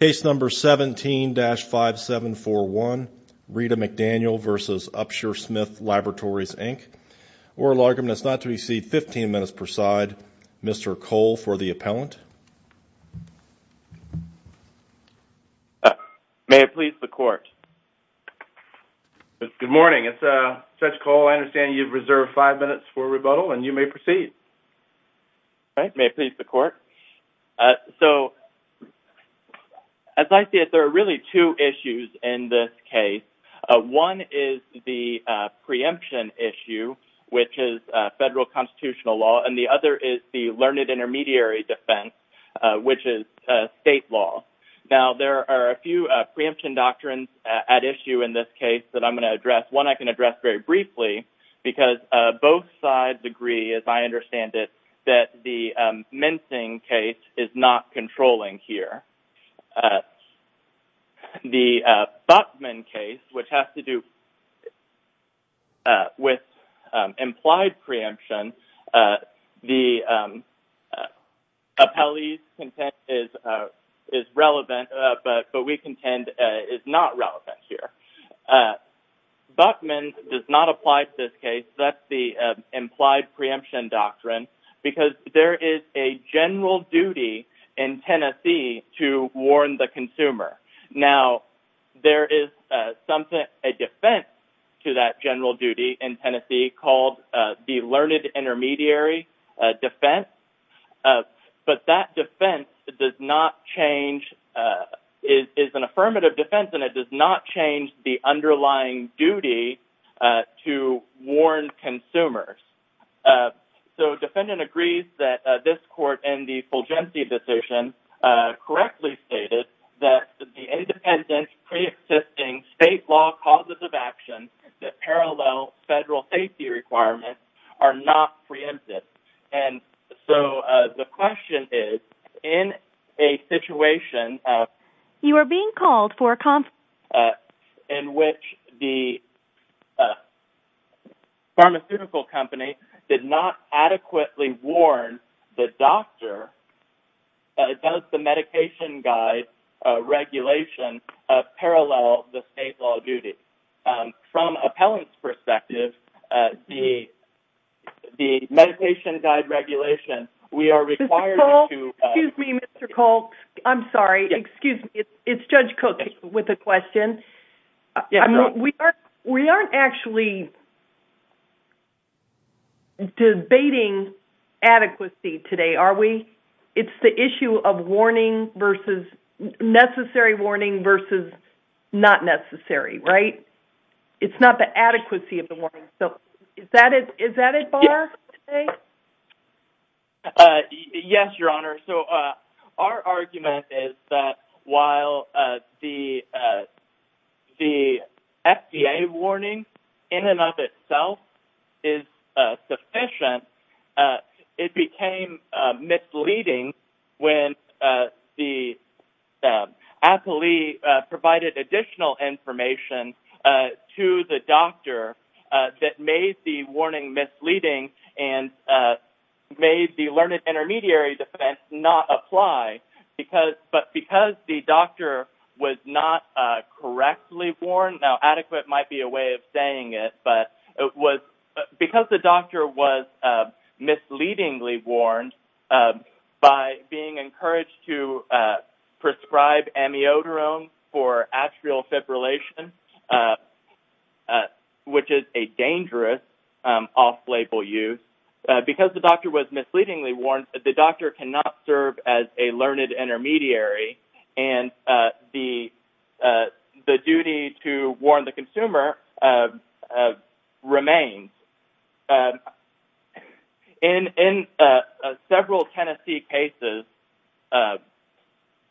Case number 17-5741, Rita McDaniel v. Upsher-Smith Laboratories Inc, oral argument is not to be received, 15 minutes per side. Mr. Cole for the appellant. May it please the court. Good morning, it's Judge Cole. I understand you've reserved five minutes for rebuttal and you may proceed. All right, may it please the court. So, as I see it, there are really two issues in this case. One is the preemption issue, which is federal constitutional law, and the other is the learned intermediary defense, which is state law. Now, there are a few preemption doctrines at issue in this case that I'm going to address. One I can address very briefly, because both sides agree, as I understand it, that the the Buchman case, which has to do with implied preemption, the appellee's content is relevant, but we contend is not relevant here. Buchman does not apply to this case. That's the implied preemption doctrine, because there is a general duty in Tennessee to warn the consumer. Now, there is something, a defense, to that general duty in Tennessee called the learned intermediary defense. But that defense does not change, is an affirmative defense, and it does not change the underlying duty to warn consumers. So, defendant agrees that this court, in the Fulgenci decision, correctly stated that the independent pre-existing state law causes of action that parallel federal safety requirements are not preempted. And so, the question is, in a situation... You are being called for a conference. ...in which the pharmaceutical company did not adequately warn the doctor, does the medication guide regulation parallel the state law duty? From appellant's perspective, the the medication guide regulation, we are required to... Excuse me, Mr. Cole. I'm sorry. Excuse me. It's Judge Cook with a question. We aren't actually debating adequacy today, are we? It's the issue of warning versus... necessary warning versus not necessary, right? It's not the adequacy of the warning. So, is that it? Is that it, Barr? Yes, Your Honor. So, our argument is that while the the FDA warning, in and of itself, is sufficient, it became misleading when the appellee provided additional information to the doctor that made the warning misleading and made the learned intermediary defense not apply. But because the doctor was not correctly warned... Now, adequate might be a way of saying it, but it was... Because the doctor was misleadingly warned by being encouraged to prescribe amiodarone for atrial fibrillation, which is a dangerous off-label use, because the doctor was misleadingly warned, the doctor cannot serve as a learned intermediary and the the duty to warn the consumer remains. In several Tennessee cases...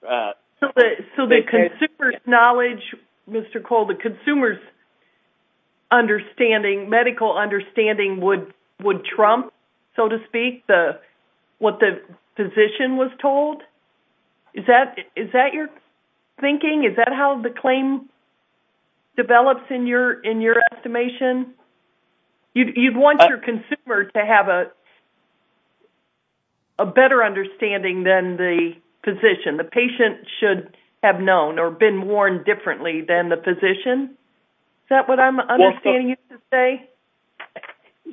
So, the consumer's knowledge, Mr. Cole, the consumer's understanding, medical understanding, would would trump, so to speak, what the physician was told? Is that is that your thinking? Is that how the claim develops in your in your estimation? You'd want your consumer to have a better understanding than the physician. The patient should have known or been warned differently than the physician. Is that what I'm understanding you to say?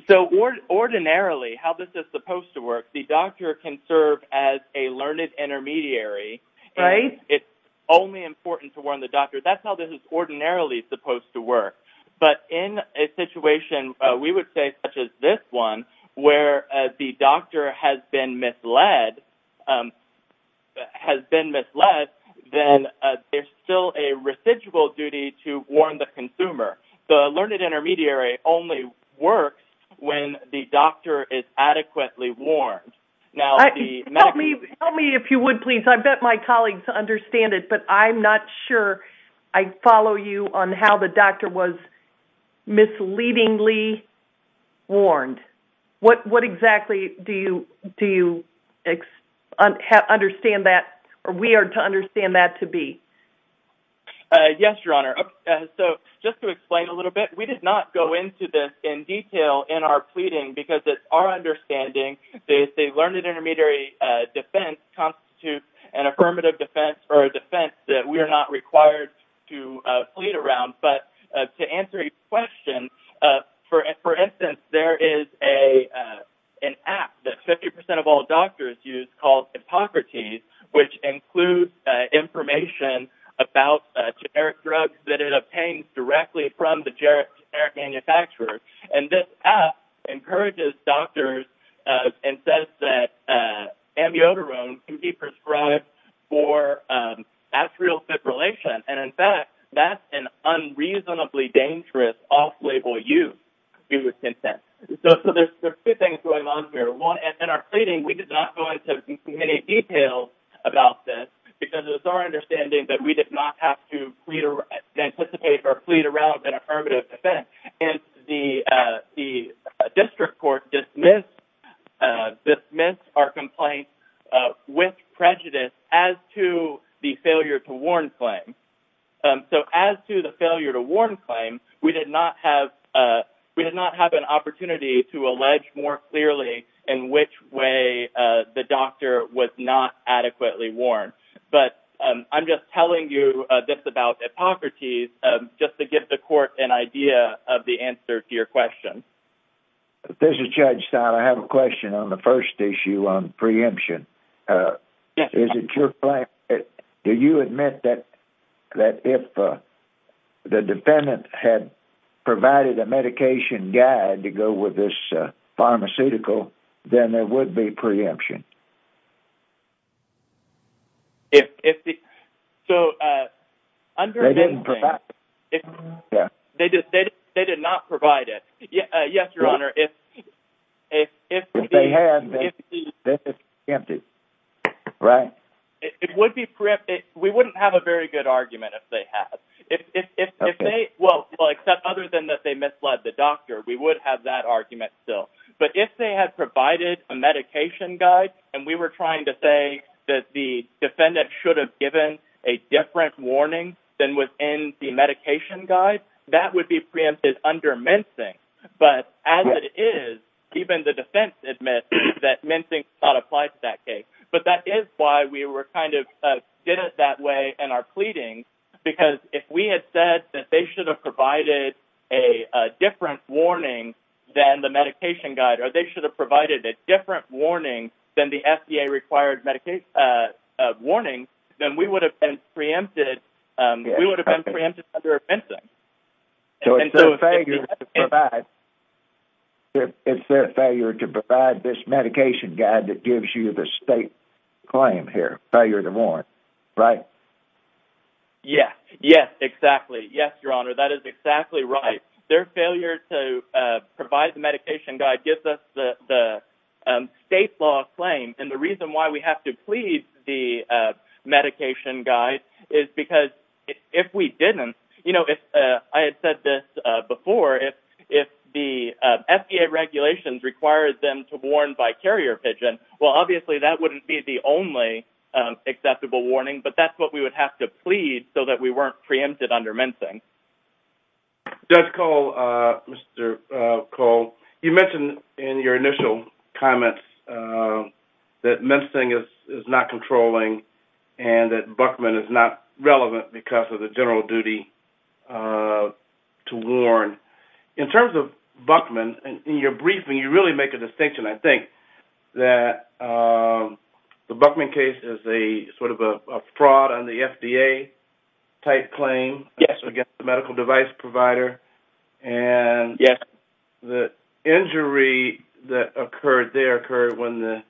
So, ordinarily, how this is supposed to work, the doctor can serve as a learned intermediary. Right. It's only important to warn the doctor. That's how this is ordinarily supposed to work. But in a situation, we would say such as this one, where the doctor has been misled, has been misled, then there's still a residual duty to warn the consumer. The learned intermediary only works when the doctor is adequately warned. Now, the medical... Help me, if you would, please. I bet my colleagues understand it, but I'm not sure I follow you on how the doctor was misleadingly warned. What what exactly do you do you understand that or we are to understand that to be? Yes, Your Honor. So, just to explain a little bit, we did not go into this in detail in our pleading because it's our understanding that a learned intermediary defense constitutes an affirmative defense or a defense that we are not required to plead around. But to answer your question, for instance, there is a an app that 50% of all doctors use called Hippocrates, which includes information about generic drugs that it obtains directly from the generic manufacturer. And this app encourages doctors and says that amiodarone can be prescribed for atrial fibrillation. And in fact, that's an unreasonably dangerous off-label use, we would consent. So, there's two things going on here. One, in our pleading, we did not go into many details about this because it's our understanding that we did not have to plead or anticipate or plead around an affirmative defense. And the District Court dismissed our complaint with prejudice as to the failure to warn claim. So, as to the failure to warn claim, we did not have an opportunity to allege more clearly in which way the doctor was not adequately warned. But I'm just telling you this about Hippocrates, just to give the court an idea of the answer to your question. This is Judge Stein. I have a question on the first issue on preemption. Is it your plan? Do you admit that if the defendant had provided a medication guide to go with this pharmaceutical, then there would be preemption? If the... So, under this... They didn't provide it. They did not provide it. Yes, Your Honor, if... If they had, they would be preempted. Right. It would be preempted. We wouldn't have a very good argument if they had. If they... Well, except other than that they misled the doctor, we would have that argument still. But if they had provided a medication guide, and we were trying to say that the defendant should have given a different warning than was in the medication guide, that would be preempted under mincing. But, as it is, even the defense admits that mincing does not apply to that case. But that is why we were kind of... did it that way in our pleading, because if we had said that they should have provided a different warning than the medication guide, or they should have provided a different warning than the FDA-required medication warning, then we would have been preempted. We would have been preempted under mincing. So, it's their failure to provide... claim here, failure to warn, right? Yes. Yes, exactly. Yes, Your Honor, that is exactly right. Their failure to provide the medication guide gives us the state law claim. And the reason why we have to plead the medication guide is because if we didn't, you know, if I had said this before, if the FDA regulations required them to warn by carrier pigeon, well, obviously, that wouldn't be the only acceptable warning, but that's what we would have to plead so that we weren't preempted under mincing. Judge Cole, Mr. Cole, you mentioned in your initial comments that mincing is not controlling and that Buckman is not relevant because of the general duty to warn. In terms of Buckman, in your briefing, you really make a distinction, I think, that the Buckman case is a sort of a fraud on the FDA-type claim against the medical device provider. And the injury that occurred there occurred when the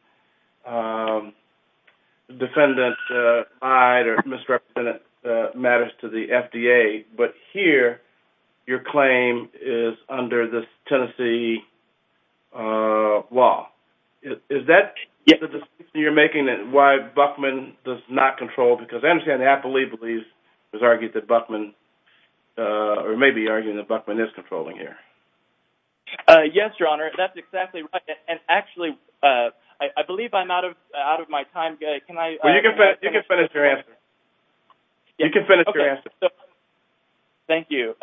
FDA-type claim was made. But here, your claim is under the Tennessee law. Is that the distinction you're making that why Buckman does not control? Because I understand Applebee believes, was argued that Buckman, or may be arguing that Buckman is controlling here. Yes, Your Honor, that's exactly right. And actually, I believe I'm out of my time. Well, you can finish your answer. You can finish your answer. Thank you.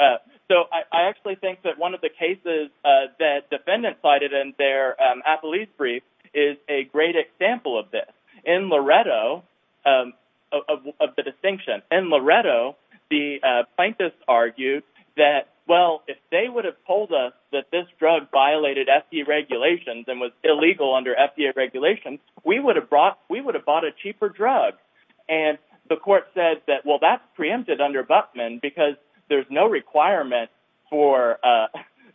So I actually think that one of the cases that defendants cited in their Applebee's brief is a great example of this. In Loretto, of the distinction, in Loretto, the plaintiffs argued that, well, if they would have told us that this drug violated FDA regulations and was illegal under FDA regulations, we would have bought a cheaper drug. And the court said that, well, that's preempted under Buckman because there's no requirement for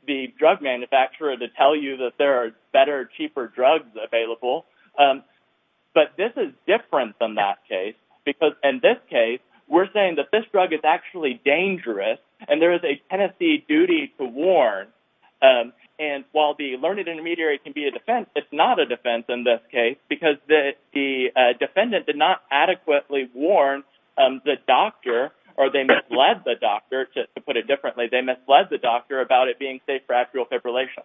the drug manufacturer to tell you that there are better, cheaper drugs available. But this is different than that case. Because in this case, we're saying that this drug is actually dangerous, and there is a Tennessee duty to warn. And while the learned intermediary can be a defense, it's not a defense in this case because the defendant did not adequately warn the doctor, or they misled the doctor, to put it differently, they misled the doctor about it being safe for actual fibrillation.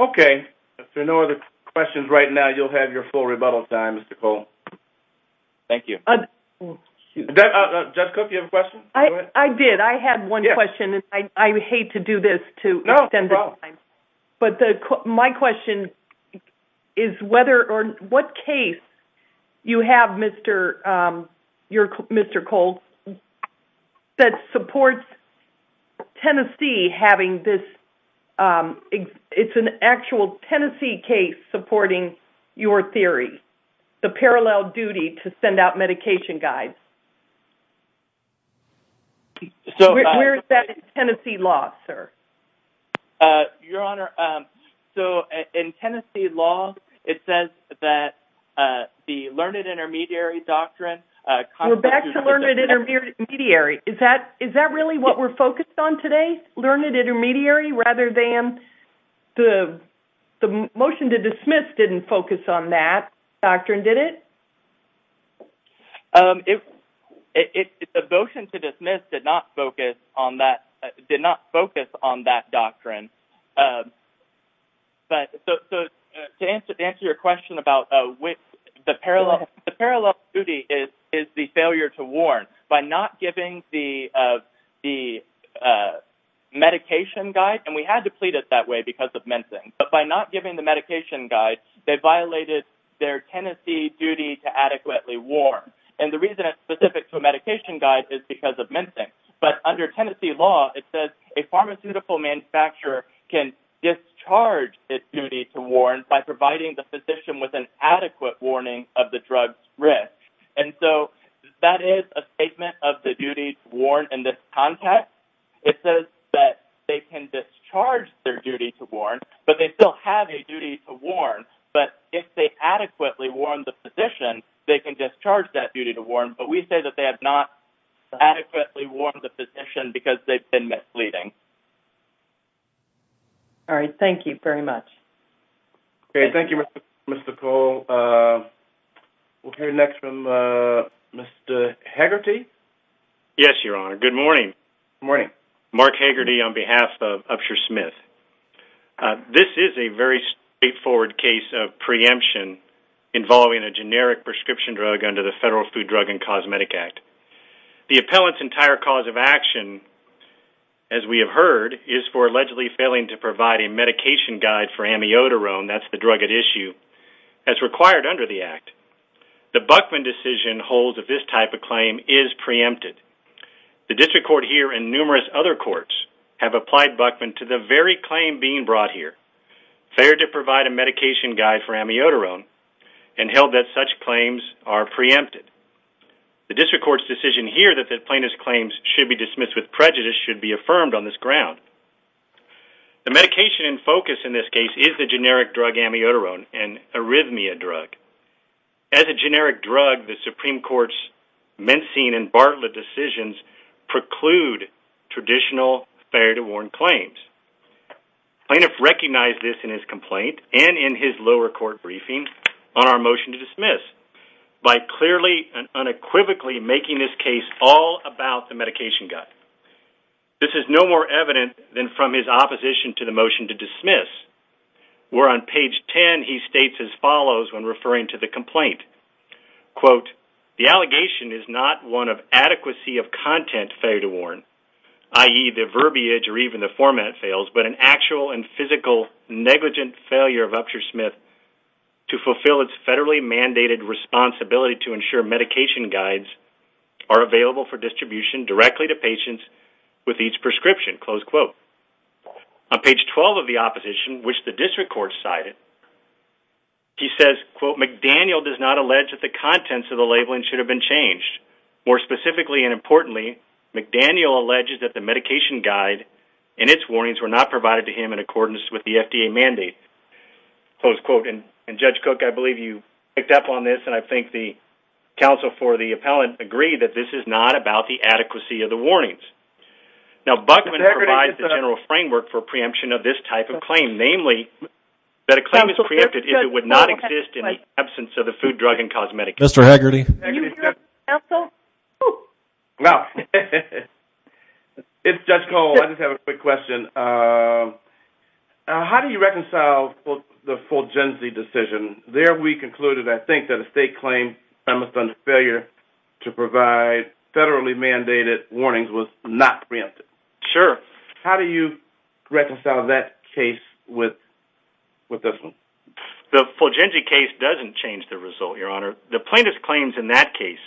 Okay, if there are no other questions right now, you'll have your full rebuttal time, Mr. Cole. Thank you. Judge Cook, you have a question? I did. I had one question, and I hate to do this to extend the time, but my question is whether or what case you have, Mr. Mr. Cole, that supports Tennessee having this It's an actual Tennessee case supporting your theory, the parallel duty to send out medication guides. Where is that in Tennessee law, sir? Your Honor, so in Tennessee law, it says that the learned intermediary doctrine We're back to learned intermediary. Is that really what we're focused on today? Learned intermediary rather than the motion to dismiss didn't focus on that doctrine, did it? It's a motion to dismiss did not focus on that, did not focus on that doctrine, but to answer your question about which the parallel, the parallel duty is the failure to warn. By not giving the medication guide, and we had to plead it that way because of mincing, but by not giving the medication guide, they violated their Tennessee duty to adequately warn, and the reason it's specific to a medication guide is because of mincing. But under Tennessee law, it says a pharmaceutical manufacturer can discharge its duty to warn by providing the physician with an adequate warning of the drug's risk. And so that is a statement of the duty to warn in this context. It says that they can discharge their duty to warn, but they still have a duty to warn, but if they adequately warn the physician, they can discharge that duty to warn, but we say that they have not adequately warned the physician because they've been misleading. All right, thank you very much. Okay. Thank you, Mr. Cole. We'll hear next from Mr. Hegarty. Yes, Your Honor. Good morning. Good morning. Mark Hegarty on behalf of Upshur Smith. This is a very straightforward case of preemption involving a generic prescription drug under the Federal Food, Drug, and Cosmetic Act. The appellant's entire cause of action, as we have heard, is for allegedly failing to provide a medication guide for amiodarone, that's the drug at issue, as required under the Act. The Buckman decision holds that this type of claim is preempted. The district court here and numerous other courts have applied Buckman to the very claim being brought here, failed to provide a medication guide for amiodarone, and held that such claims are preempted. The district court's decision here that the plaintiff's claims should be dismissed with prejudice should be affirmed on this ground. The medication in focus in this case is the generic drug amiodarone, an arrhythmia drug. As a generic drug, the Supreme Court's Buckman-Bartlett decisions preclude traditional fair to warn claims. Plaintiff recognized this in his complaint and in his lower court briefing on our motion to dismiss by clearly and unequivocally making this case all about the medication guide. This is no more evident than from his opposition to the motion to dismiss, where on page 10 he states as follows when referring to the complaint, quote, the allegation is not one of adequacy of content fair to warn, i.e. the verbiage or even the format fails, but an actual and physical negligent failure of Upshur Smith to fulfill its federally mandated responsibility to ensure medication guides are available for distribution directly to patients with each prescription, close quote. On page 12 of the opposition, which the district court cited, he says, quote, McDaniel does not allege that the contents of the labeling should have been changed. More specifically and importantly, McDaniel alleges that the medication guide and its warnings were not provided to him in accordance with the FDA mandate. Close quote. And Judge Cook, I believe you picked up on this and I think the counsel for the appellant agreed that this is not about the adequacy of the warnings. Now Buckman provides the general framework for preemption of this type of claim, namely that a claim is preempted if it would not exist in the absence of the food, drug, and cosmetic. Mr. Haggerty. It's Judge Cole, I just have a quick question. How do you reconcile the Fulgensi decision? There we concluded, I think, that a state claim promised under failure to provide federally mandated warnings was not preempted. Sure. How do you reconcile that with this one? The Fulgensi case doesn't change the result, Your Honor. The plaintiff's claims in that case,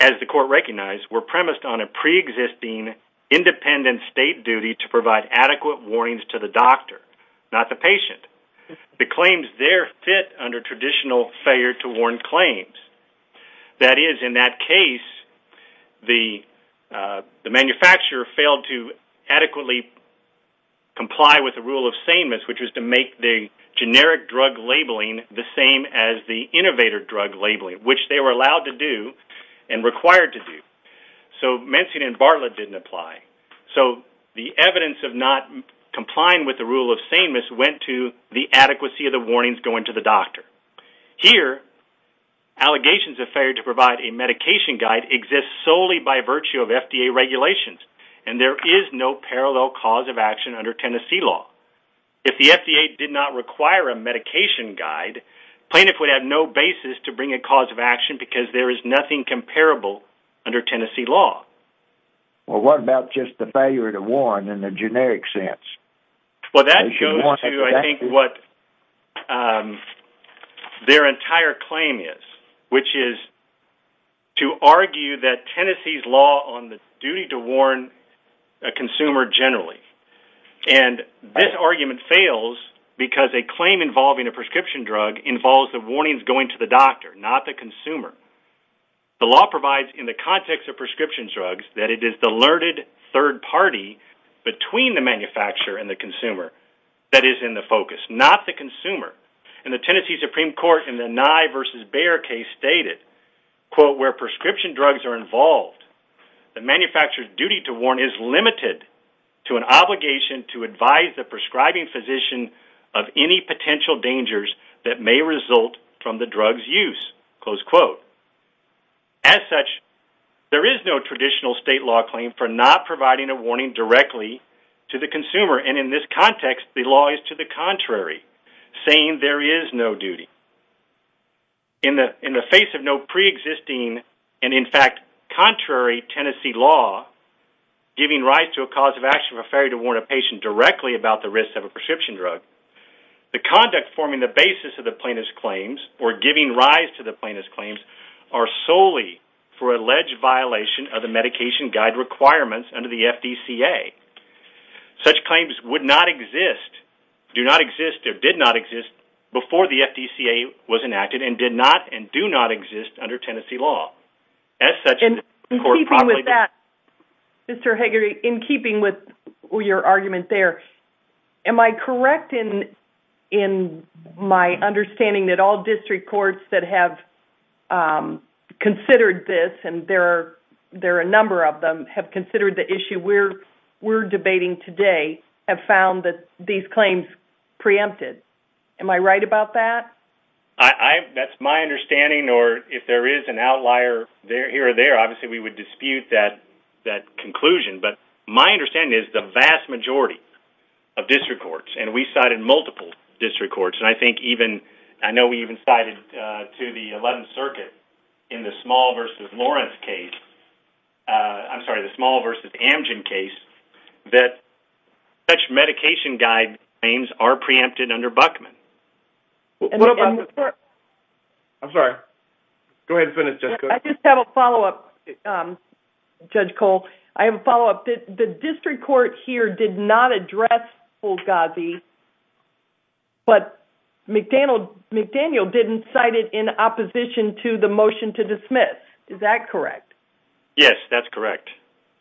as the court recognized, were premised on a pre-existing independent state duty to provide adequate warnings to the doctor, not the patient. The claims there fit under traditional failure to warn claims. That is, in that case, the the manufacturer failed to adequately comply with the rule of sameness, which was to make the generic drug labeling the same as the innovator drug labeling, which they were allowed to do and required to do. So, Menzies and Bartlett didn't apply. So, the evidence of not complying with the rule of sameness went to the adequacy of the warnings going to the doctor. Here, allegations of failure to provide a medication guide exists solely by virtue of FDA regulations, and there is no parallel cause of action under Tennessee law. If the FDA did not require a medication guide, plaintiff would have no basis to bring a cause of action because there is nothing comparable under Tennessee law. Well, what about just the failure to warn in the generic sense? Well, that goes to, I think, what their entire claim is, which is to argue that Tennessee's law on the duty to warn a consumer generally, and this argument fails because a claim involving a prescription drug involves the warnings going to the doctor, not the consumer. The law provides, in the context of prescription drugs, that it is the alerted third party between the manufacturer and the consumer that is in the focus, not the consumer. And the Tennessee Supreme Court, in the Nye vs. Bayer case, stated, quote, where prescription drugs are involved, the manufacturer's duty to warn is limited to an obligation to advise the prescribing physician of any potential dangers that may result from the drug's use, close quote. As such, there is no traditional state law claim for not providing a warning directly to the consumer, and in this context, the law is to the contrary, saying there is no duty. In the face of no pre-existing, and in fact, contrary, Tennessee law giving rise to a cause of action for failure to warn a patient directly about the risks of a prescription drug, the conduct forming the basis of the plaintiff's claims, or giving rise to the plaintiff's claims, are solely for alleged violation of the medication guide requirements under the FDCA. Such claims would not exist, do not exist, or did not exist, before the FDCA was enacted, and did not, and do not exist under Tennessee law. Mr. Hagerty, in keeping with your argument there, am I correct in my understanding that all district courts that have we're debating today have found that these claims preempted? Am I right about that? That's my understanding, or if there is an outlier there here or there, obviously we would dispute that that conclusion, but my understanding is the vast majority of district courts, and we cited multiple district courts, and I think even, I know we even cited to the 11th Circuit in the Small v. Lawrence case, I'm sorry, the Small v. Amgen case, that such medication guide claims are preempted under Buckman. I'm sorry, go ahead and finish, Judge Cole. I just have a follow-up, Judge Cole, I have a follow-up. The district court here did not address Fulgazi, but McDaniel didn't cite it in opposition to the motion to dismiss, is that correct? Yes, that's correct.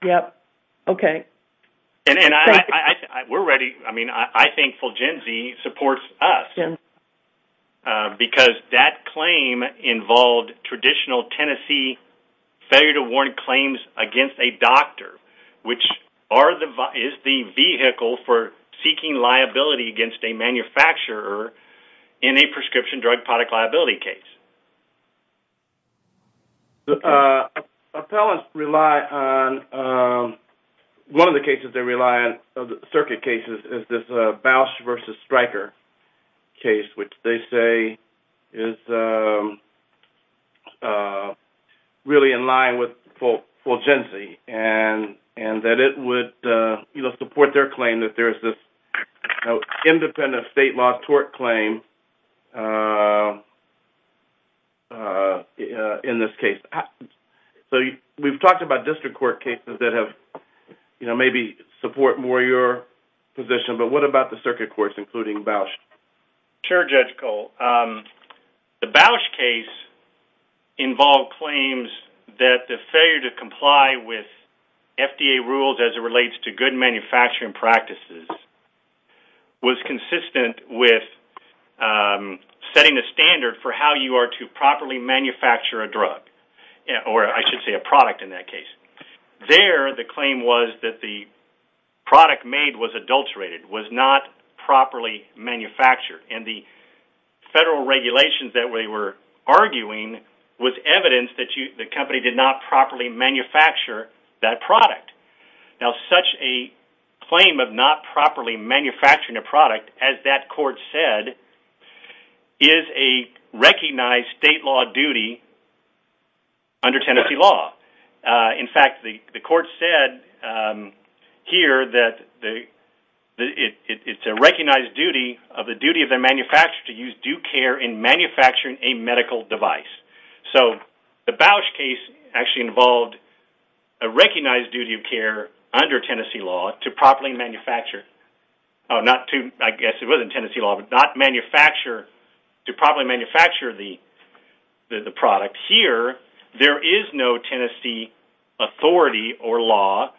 Yep, okay. We're ready, I mean, I think Fulgazi supports us, because that claim involved traditional Tennessee failure to warrant claims against a doctor, which is the vehicle for seeking liability against a manufacturer in a prescription drug product liability case. The appellants rely on, one of the cases they rely on, of the circuit cases, is this Bausch v. Stryker case, which they say is really in line with Fulgazi, and that it would, you know, support their claim that there's this independent state law tort claim in this case. So, we've talked about district court cases that have, you know, maybe support more your position, but what about the circuit courts, including Bausch? Sure, Judge Cole. The Bausch case involved claims that the failure to comply with FDA rules as it relates to good manufacturing practices was consistent with setting a standard for how you are to properly manufacture a drug, or I should say a product in that case. There, the claim was that the product made was adulterated, was not properly manufactured, and the federal regulations that we were arguing was evidence that the company did not properly manufacture that product. Now, such a claim of not properly manufacturing a product, as that court said, is a recognized state law duty under Tennessee law. In fact, the court said here that it's a recognized duty of the duty of the manufacturer to use due care in manufacturing a medical device. So, the Bausch case actually involved a recognized duty of care under Tennessee law to properly manufacture, not to, I guess it wasn't Tennessee law, but not manufacture, to properly manufacture the product. Here, there is no Tennessee authority or law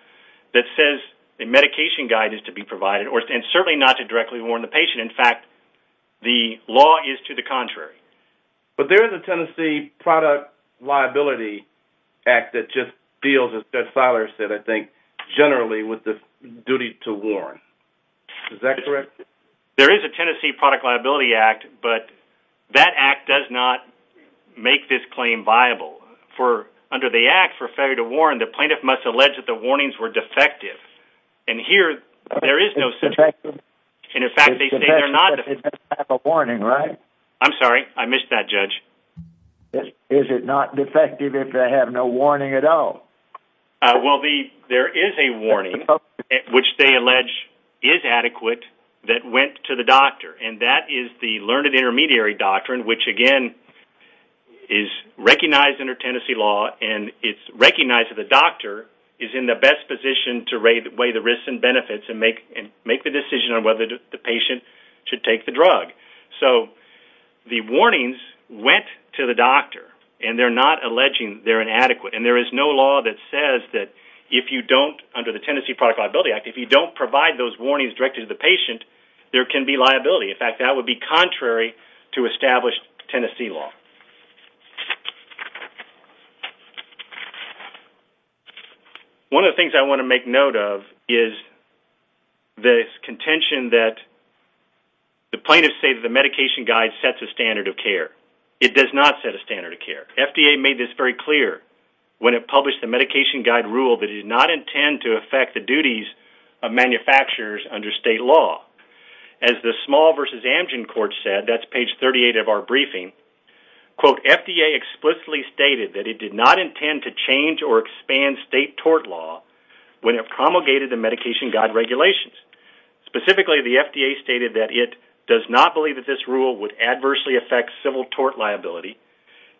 that says a medication guide is to be provided, and certainly not to directly warn the patient. In fact, the law is to the contrary. But there is a Tennessee Product Liability Act that just deals, as Judge Feiler said, I think, generally with the duty to warn. Is that correct? There is a Tennessee Product Liability Act, but that Act does not make this claim viable. Under the Act, for failure to warn, the plaintiff must allege that the warnings were defective. And here, there is no such thing. And in fact, they say they're not defective. I'm sorry, I missed that, Judge. Is it not defective if they have no warning at all? Well, there is a warning, which they allege is adequate, that went to the doctor. And that is the learned intermediary doctrine, which again, is recognized under Tennessee law, and it's recognized that the doctor is in the best position to weigh the risks and benefits and make the decision on whether the patient should take the drug. So, the warnings went to the doctor, and they're not alleging they're inadequate. And there is no law that says that if you don't, under the Tennessee Product Liability Act, if you don't provide those warnings, directed to the patient, there can be liability. In fact, that would be contrary to established Tennessee law. One of the things I want to make note of is the contention that the plaintiffs say that the medication guide sets a standard of care. It does not set a standard of care. FDA made this very clear when it published the medication guide rule that it did not intend to affect the duties of manufacturers under state law. As the Small v. Amgen court said, that's page 38 of our briefing, quote, FDA explicitly stated that it did not intend to change or expand state tort law when it promulgated the medication guide regulations. Specifically, the FDA stated that it does not believe that this rule would adversely affect civil tort liability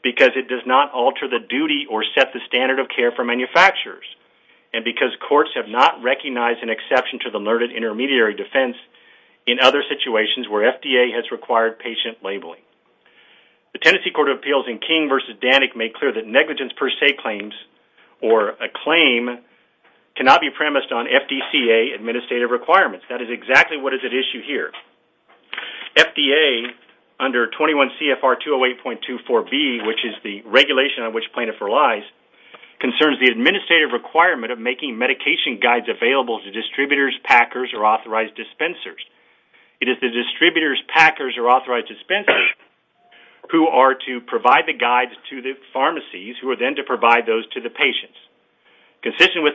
because it does not alter the duty or set the standard of care for manufacturers, and because courts have not recognized an exception to the learned intermediary defense in other situations where FDA has required patient labeling. The Tennessee Court of Appeals in King v. Danik made clear that negligence per se claims, or a claim, cannot be premised on FDCA administrative requirements. That is exactly what is at issue here. FDA, under 21 CFR 208.24b, which is the regulation on which plaintiff relies, concerns the administrative requirement of making medication guides available to distributors, packers, or authorized dispensers. It is the distributors, packers, or authorized dispensers who are to provide the guides to the pharmacies, who are then to provide those to the patients. Consistent with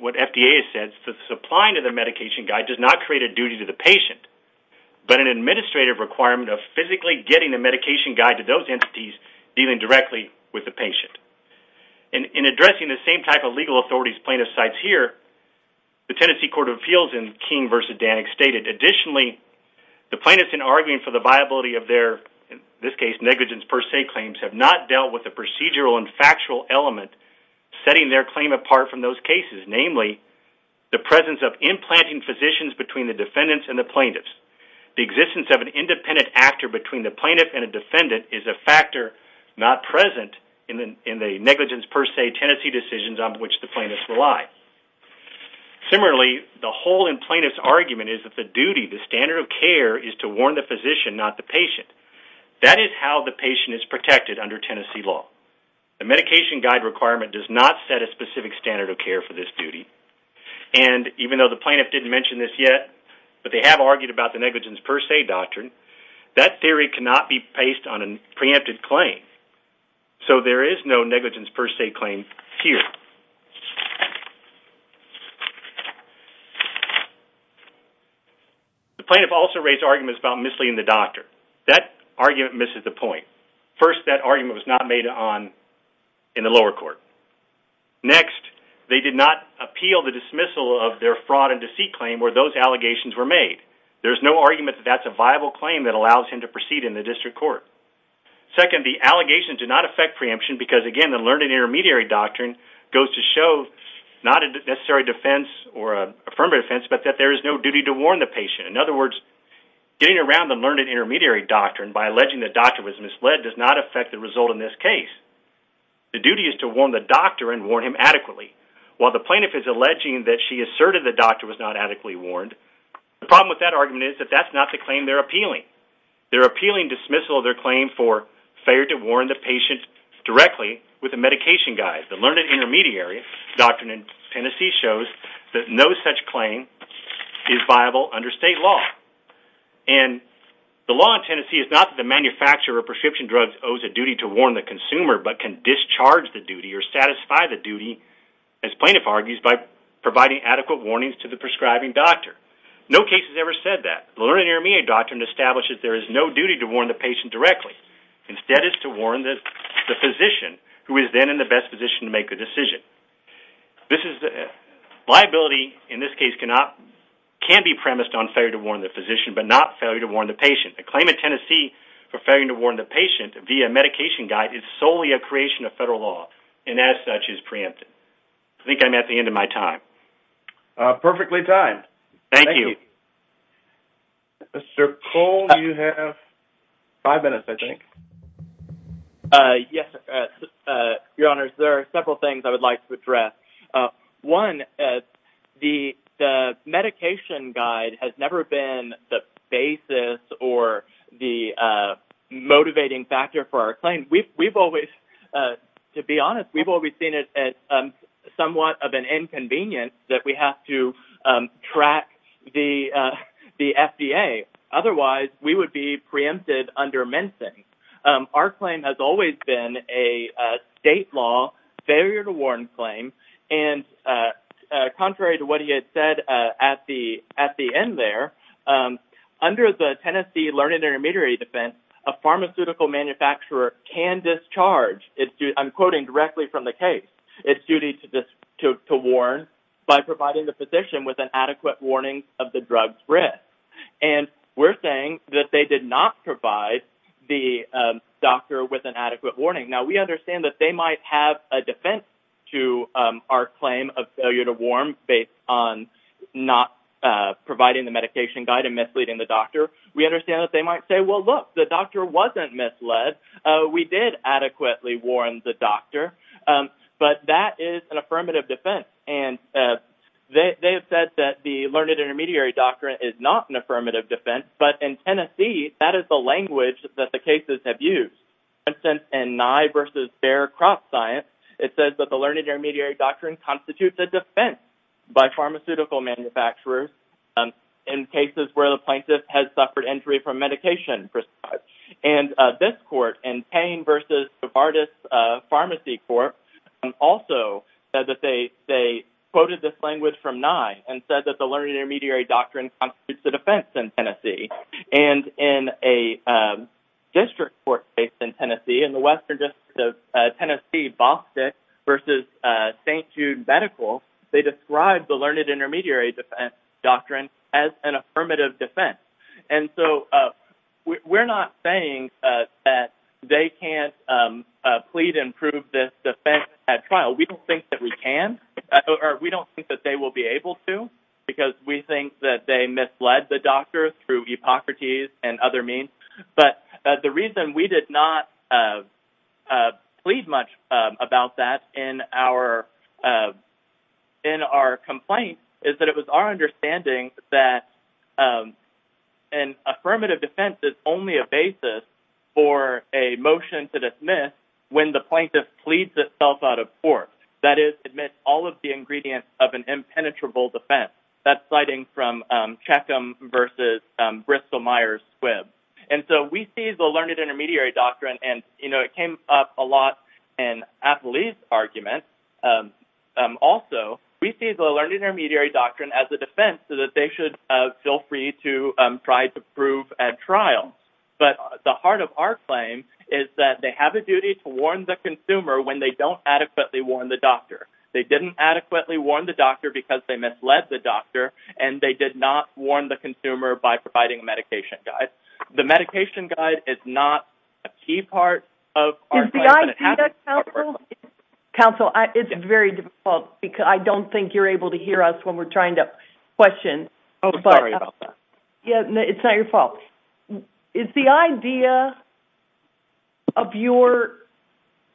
what FDA has said, the supplying of the medication guide does not create a duty to the patient, but an administrative requirement of physically getting the medication guide to those entities dealing directly with the patient. In addressing the same type of legal authorities plaintiff cites here, the Tennessee Court of Appeals in King v. Danik stated, additionally, the plaintiffs, in arguing for the viability of their, in this case, negligence per se claims, have not dealt with the procedural and factual element setting their claim apart from those cases, namely, the presence of implanting physicians between the defendants and the plaintiffs. The existence of an independent actor between the plaintiff and a defendant is a factor not present in the negligence per se Tennessee decisions on which the plaintiffs rely. Similarly, the whole in plaintiff's argument is that the duty, the standard of care, is to warn the physician, not the patient. That is how the patient is protected under Tennessee law. The medication guide requirement does not set a specific standard of care for this duty. And even though the plaintiff didn't mention this yet, but they have argued about the negligence per se doctrine, that theory cannot be based on a preempted claim. So there is no negligence per se claim here. The plaintiff also raised arguments about misleading the doctor. That argument misses the point. First, that argument was not made on in the lower court. Next, they did not appeal the dismissal of their fraud and deceit claim where those allegations were made. There's no argument that that's a viable claim that allows him to proceed in the district court. Second, the allegation did not affect preemption because, again, the learned and intermediary doctrine goes to show not a necessary defense or affirmative defense, but that there is no duty to warn the patient. In other words, getting around the learned and intermediary doctrine by alleging the doctor was misled does not affect the result in this case. The duty is to warn the doctor and warn him adequately. While the plaintiff is alleging that she asserted the doctor was not adequately warned, the problem with that argument is that that's not the claim they're appealing. They're appealing dismissal of their claim for failure to warn the patient directly with a medication guide. The learned and intermediary doctrine in Tennessee shows that no such claim is viable under state law. And the law in Tennessee is not that the manufacturer of prescription drugs owes a duty to warn the consumer, but can discharge the duty or satisfy the duty, as plaintiff argues, by providing adequate warnings to the prescribing doctor. No case has ever said that. The learned and intermediary doctrine establishes there is no duty to warn the patient directly. Instead, it's to warn the physician who is then in the best position to make the decision. This is the liability in this case cannot can be premised on failure to warn the physician, but not failure to warn the patient. A claim in Tennessee for failing to warn the patient via medication guide is solely a creation of federal law and as such is preempted. I think I'm at the end of my time. Perfectly timed. Thank you. Mr. Cole, you have five minutes, I think. Yes, your honors, there are several things I would like to address. One, the medication guide has never been the basis or the motivating factor for our claim. We've always, to be honest, we've always seen it as somewhat of an inconvenience that we have to track the FDA. Otherwise, we would be preempted under mensing. Our claim has always been a state law failure to warn claim and contrary to what he had said at the end there, under the Tennessee Learned Intermediary Defense, a pharmaceutical manufacturer can discharge. I'm quoting directly from the case. It's duty to warn by providing the physician with an adequate warning of the drug's risk. And we're saying that they did not provide the doctor with an adequate warning. Now, we understand that they might have a defense to our claim of failure to warn based on not providing the medication guide and misleading the doctor. We understand that they might say, well, look, the doctor wasn't misled. We did adequately warn the doctor. But that is an affirmative defense. And they have said that the Learned Intermediary Doctrine is not an affirmative defense. But in Tennessee, that is the language that the cases have used. For instance, in Nye v. Bear Crop Science, it says that the Learned Intermediary Doctrine constitutes a defense by pharmaceutical manufacturers in cases where the plaintiff has suffered injury from medication. And this court, in Payne v. Fardis Pharmacy Court, also said that they quoted this language from Nye and said that the Learned Intermediary Doctrine constitutes a defense in Tennessee. And in a district court case in Tennessee, in the western district of Tennessee, Bostick v. St. Jude Medical, they described the Learned Intermediary Doctrine as an affirmative defense. And so we're not saying that they can't plead and prove this defense at trial. We don't think that we can or we don't think that they will be able to because we think that they misled the doctors through Hippocrates and other means. But the reason we did not plead much about that in our complaint is that it was our understanding that an affirmative defense is only a basis for a motion to dismiss when the plaintiff pleads itself out of court. That is, admit all of the ingredients of an impenetrable defense. That's citing from Bostick v. St. Jude Medical. And so we see the Learned Intermediary Doctrine, and you know, it came up a lot in Appley's argument, also, we see the Learned Intermediary Doctrine as a defense so that they should feel free to try to prove at trial. But the heart of our claim is that they have a duty to warn the consumer when they don't adequately warn the doctor. They didn't adequately warn the doctor because they misled the doctor and they did not warn the consumer by providing a medication guide. The medication guide is not a key part of our claim. Counsel, it's very difficult because I don't think you're able to hear us when we're trying to question. Oh, sorry. Yeah, it's not your fault. Is the idea of your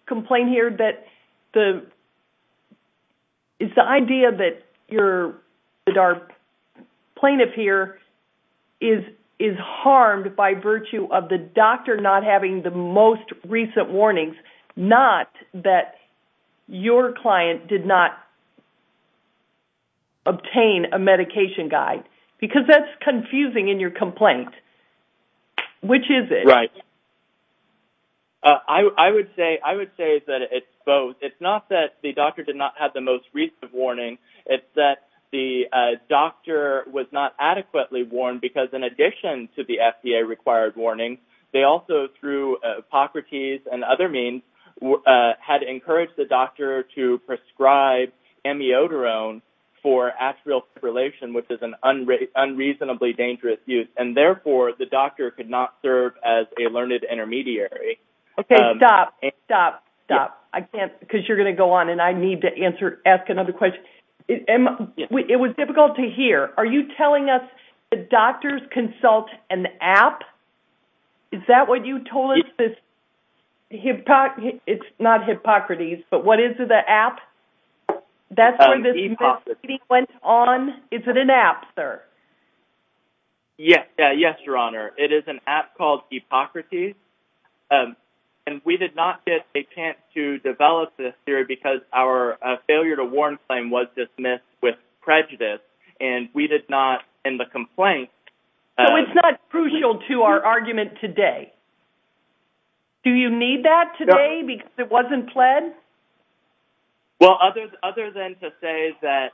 complaint here that the Is the idea that your plaintiff here is harmed by virtue of the doctor not having the most recent warnings, not that your client did not obtain a medication guide? Because that's confusing in your complaint. Which is it? Right. I would say that it's both. It's not that the doctor did not have the most recent warning. It's that the doctor was not adequately warned because in addition to the FDA required warning, they also through Hippocrates and other means had encouraged the doctor to prescribe amiodarone for atrial fibrillation, which is an unreasonably dangerous use and therefore the doctor could not serve as a learned intermediary. Okay, stop. Stop. Stop. I can't because you're going to go on and I need to ask another question. It was difficult to hear. Are you telling us the doctors consult an app? Is that what you told us? It's not Hippocrates, but what is the app? That's where this meeting went on. Is it an app, sir? Yes. Yes, your honor. It is an app called Hippocrates. And we did not get a chance to develop this theory because our failure to warn claim was dismissed with prejudice and we did not in the complaint. So it's not crucial to our argument today? Do you need that today because it wasn't pled? Well, other than to say that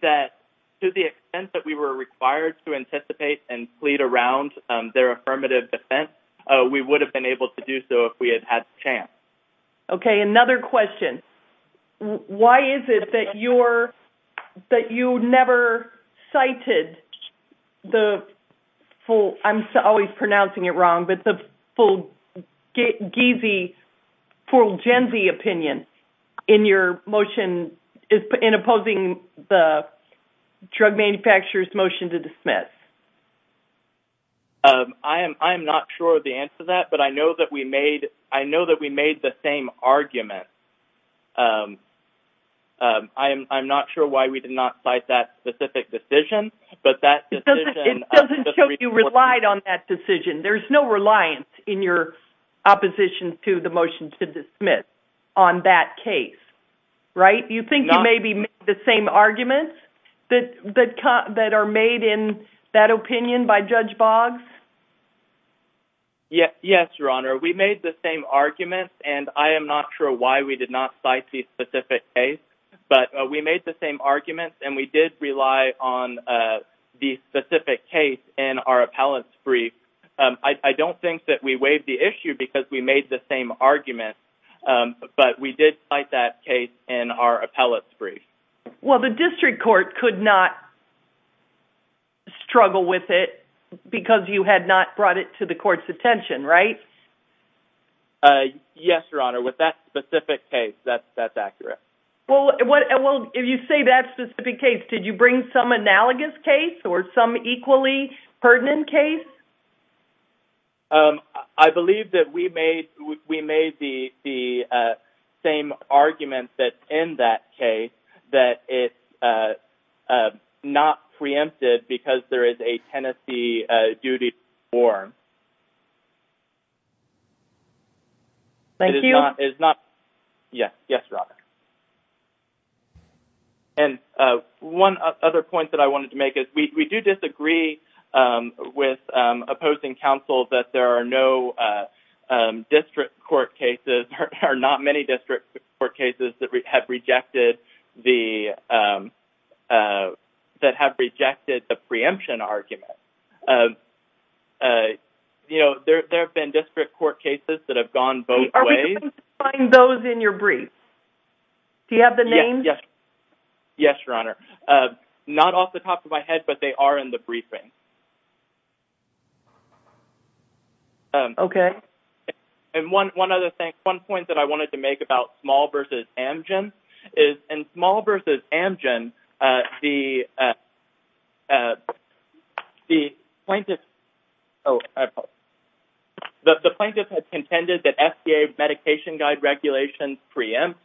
that to the extent that we were required to anticipate and plead around their affirmative defense, we would have been able to do so if we had had the chance. Okay, another question. Why is it that you're that you never cited the full, I'm always pronouncing it wrong, but the full geesey full genzy opinion in your motion is in opposing the drug manufacturer's motion to dismiss. I am I'm not sure the answer to that, but I know that we made I know that we made the same argument. I am I'm not sure why we did not cite that specific decision, but that It doesn't show you relied on that decision. There's no reliance in your opposition to the motion to dismiss on that case. Right? You think you maybe make the same arguments that that that are made in that opinion by Judge Boggs? Yes, your honor, we made the same arguments and I am not sure why we did not cite the specific case, but we made the same arguments and we did rely on the specific case in our appellate's brief. I don't think that we waived the issue because we made the same argument, but we did cite that case in our appellate's brief. Well, the district court could not struggle with it because you had not brought it to the court's attention, right? Yes, your honor with that specific case, that's that's accurate. Well, what well if you say that specific case, did you bring some analogous case or some equally pertinent case? I believe that we made we made the the same argument that in that case that it is not preempted because there is a Tennessee duty to war. Thank you. It is not. Yes. Yes, your honor. And one other point that I wanted to make is we do disagree with opposing counsel that there are no district court cases or not many district court cases that have rejected the that have rejected the preemption argument. You know, there have been district court cases that have gone both ways. Are we going to find those in your brief? Do you have the name? Yes. Yes, your honor. Not off the top of my head, but they are in the briefing. Okay. And one one other thing one point that I wanted to make about small versus Amgen is in small versus Amgen, the the plaintiff, oh the plaintiff had contended that FDA medication guide regulations preempt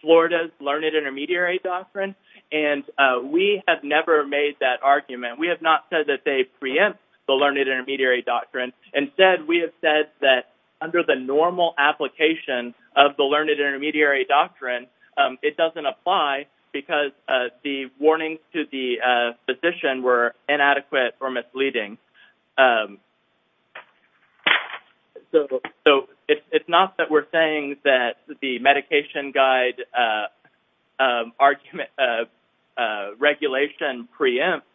Florida's learned intermediary doctrine and we have never made that argument. We have not said that they preempt the learned intermediary doctrine instead. We have said that under the normal application of the learned intermediary doctrine It doesn't apply because the warnings to the physician were inadequate or misleading So, so it's not that we're saying that the medication guide Argument Regulation preempt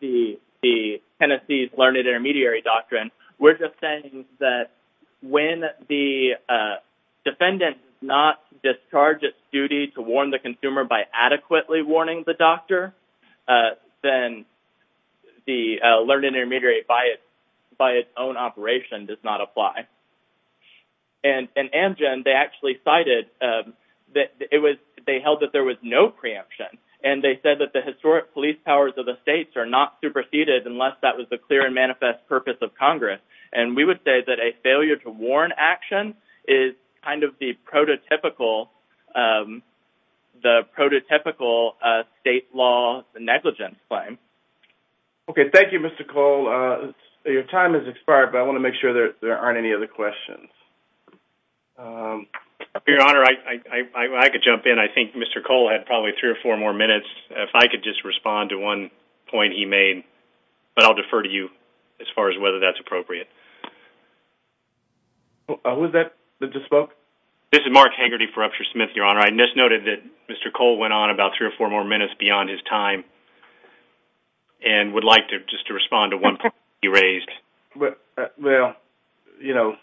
the the Tennessee's learned intermediary doctrine, we're just saying that when the defendant does not discharge its duty to warn the consumer by adequately warning the doctor then the learned intermediary by its own operation does not apply. And in Amgen, they actually cited that it was they held that there was no preemption and they said that the historic police powers of the states are not superseded unless that was the clear and manifest purpose of Congress and we would say that a failure to warn action is kind of the prototypical the prototypical state law negligence claim. Okay. Thank you, Mr. Cole. Your time has expired, but I want to make sure that there aren't any other questions. Your Honor, I could jump in. I think Mr. Cole had probably three or four more minutes if I could just respond to one point he made, but I'll defer to you as far as whether that's appropriate. Who was that that just spoke? This is Mark Hagerty for Upshur Smith, Your Honor. I just noted that Mr. Cole went on about three or four more minutes beyond his time and would like to just to respond to one point he raised. Well, you know,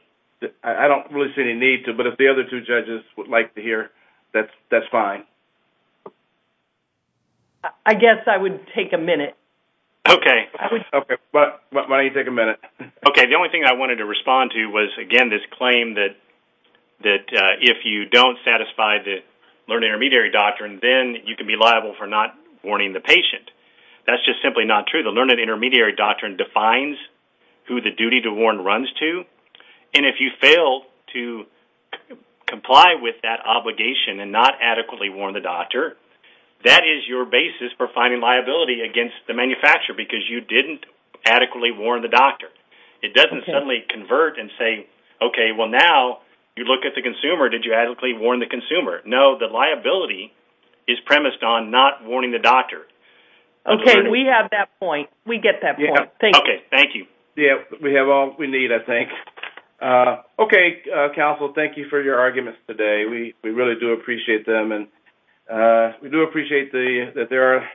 I don't really see any need to, but if the other two judges would like to hear that, that's fine. I guess I would take a minute. Okay, why don't you take a minute? Okay, the only thing I wanted to respond to was again this claim that that if you don't satisfy the learned intermediary doctrine, then you can be liable for not warning the patient. That's just simply not true. The learned intermediary doctrine defines who the duty to warn runs to, and if you fail to comply with that obligation and not adequately warn the doctor, that is your basis for finding liability against the manufacturer because you didn't adequately warn the doctor. It doesn't suddenly convert and say, okay, well now you look at the consumer. Did you adequately warn the consumer? No, the liability is premised on not warning the doctor. Okay, we have that point. We get that point. Thank you. Thank you. Yeah, we have all we need, I think. Okay, counsel. Thank you for your arguments today. We really do appreciate them, and we do appreciate that there are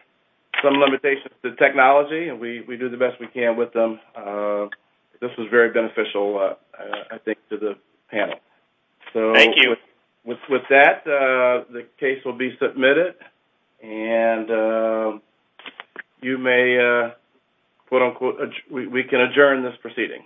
some limitations to technology, and we do the best we can with them. This was very beneficial, I think, to the panel. Thank you. With that, the case will be submitted and you may, quote-unquote, we can adjourn this proceeding.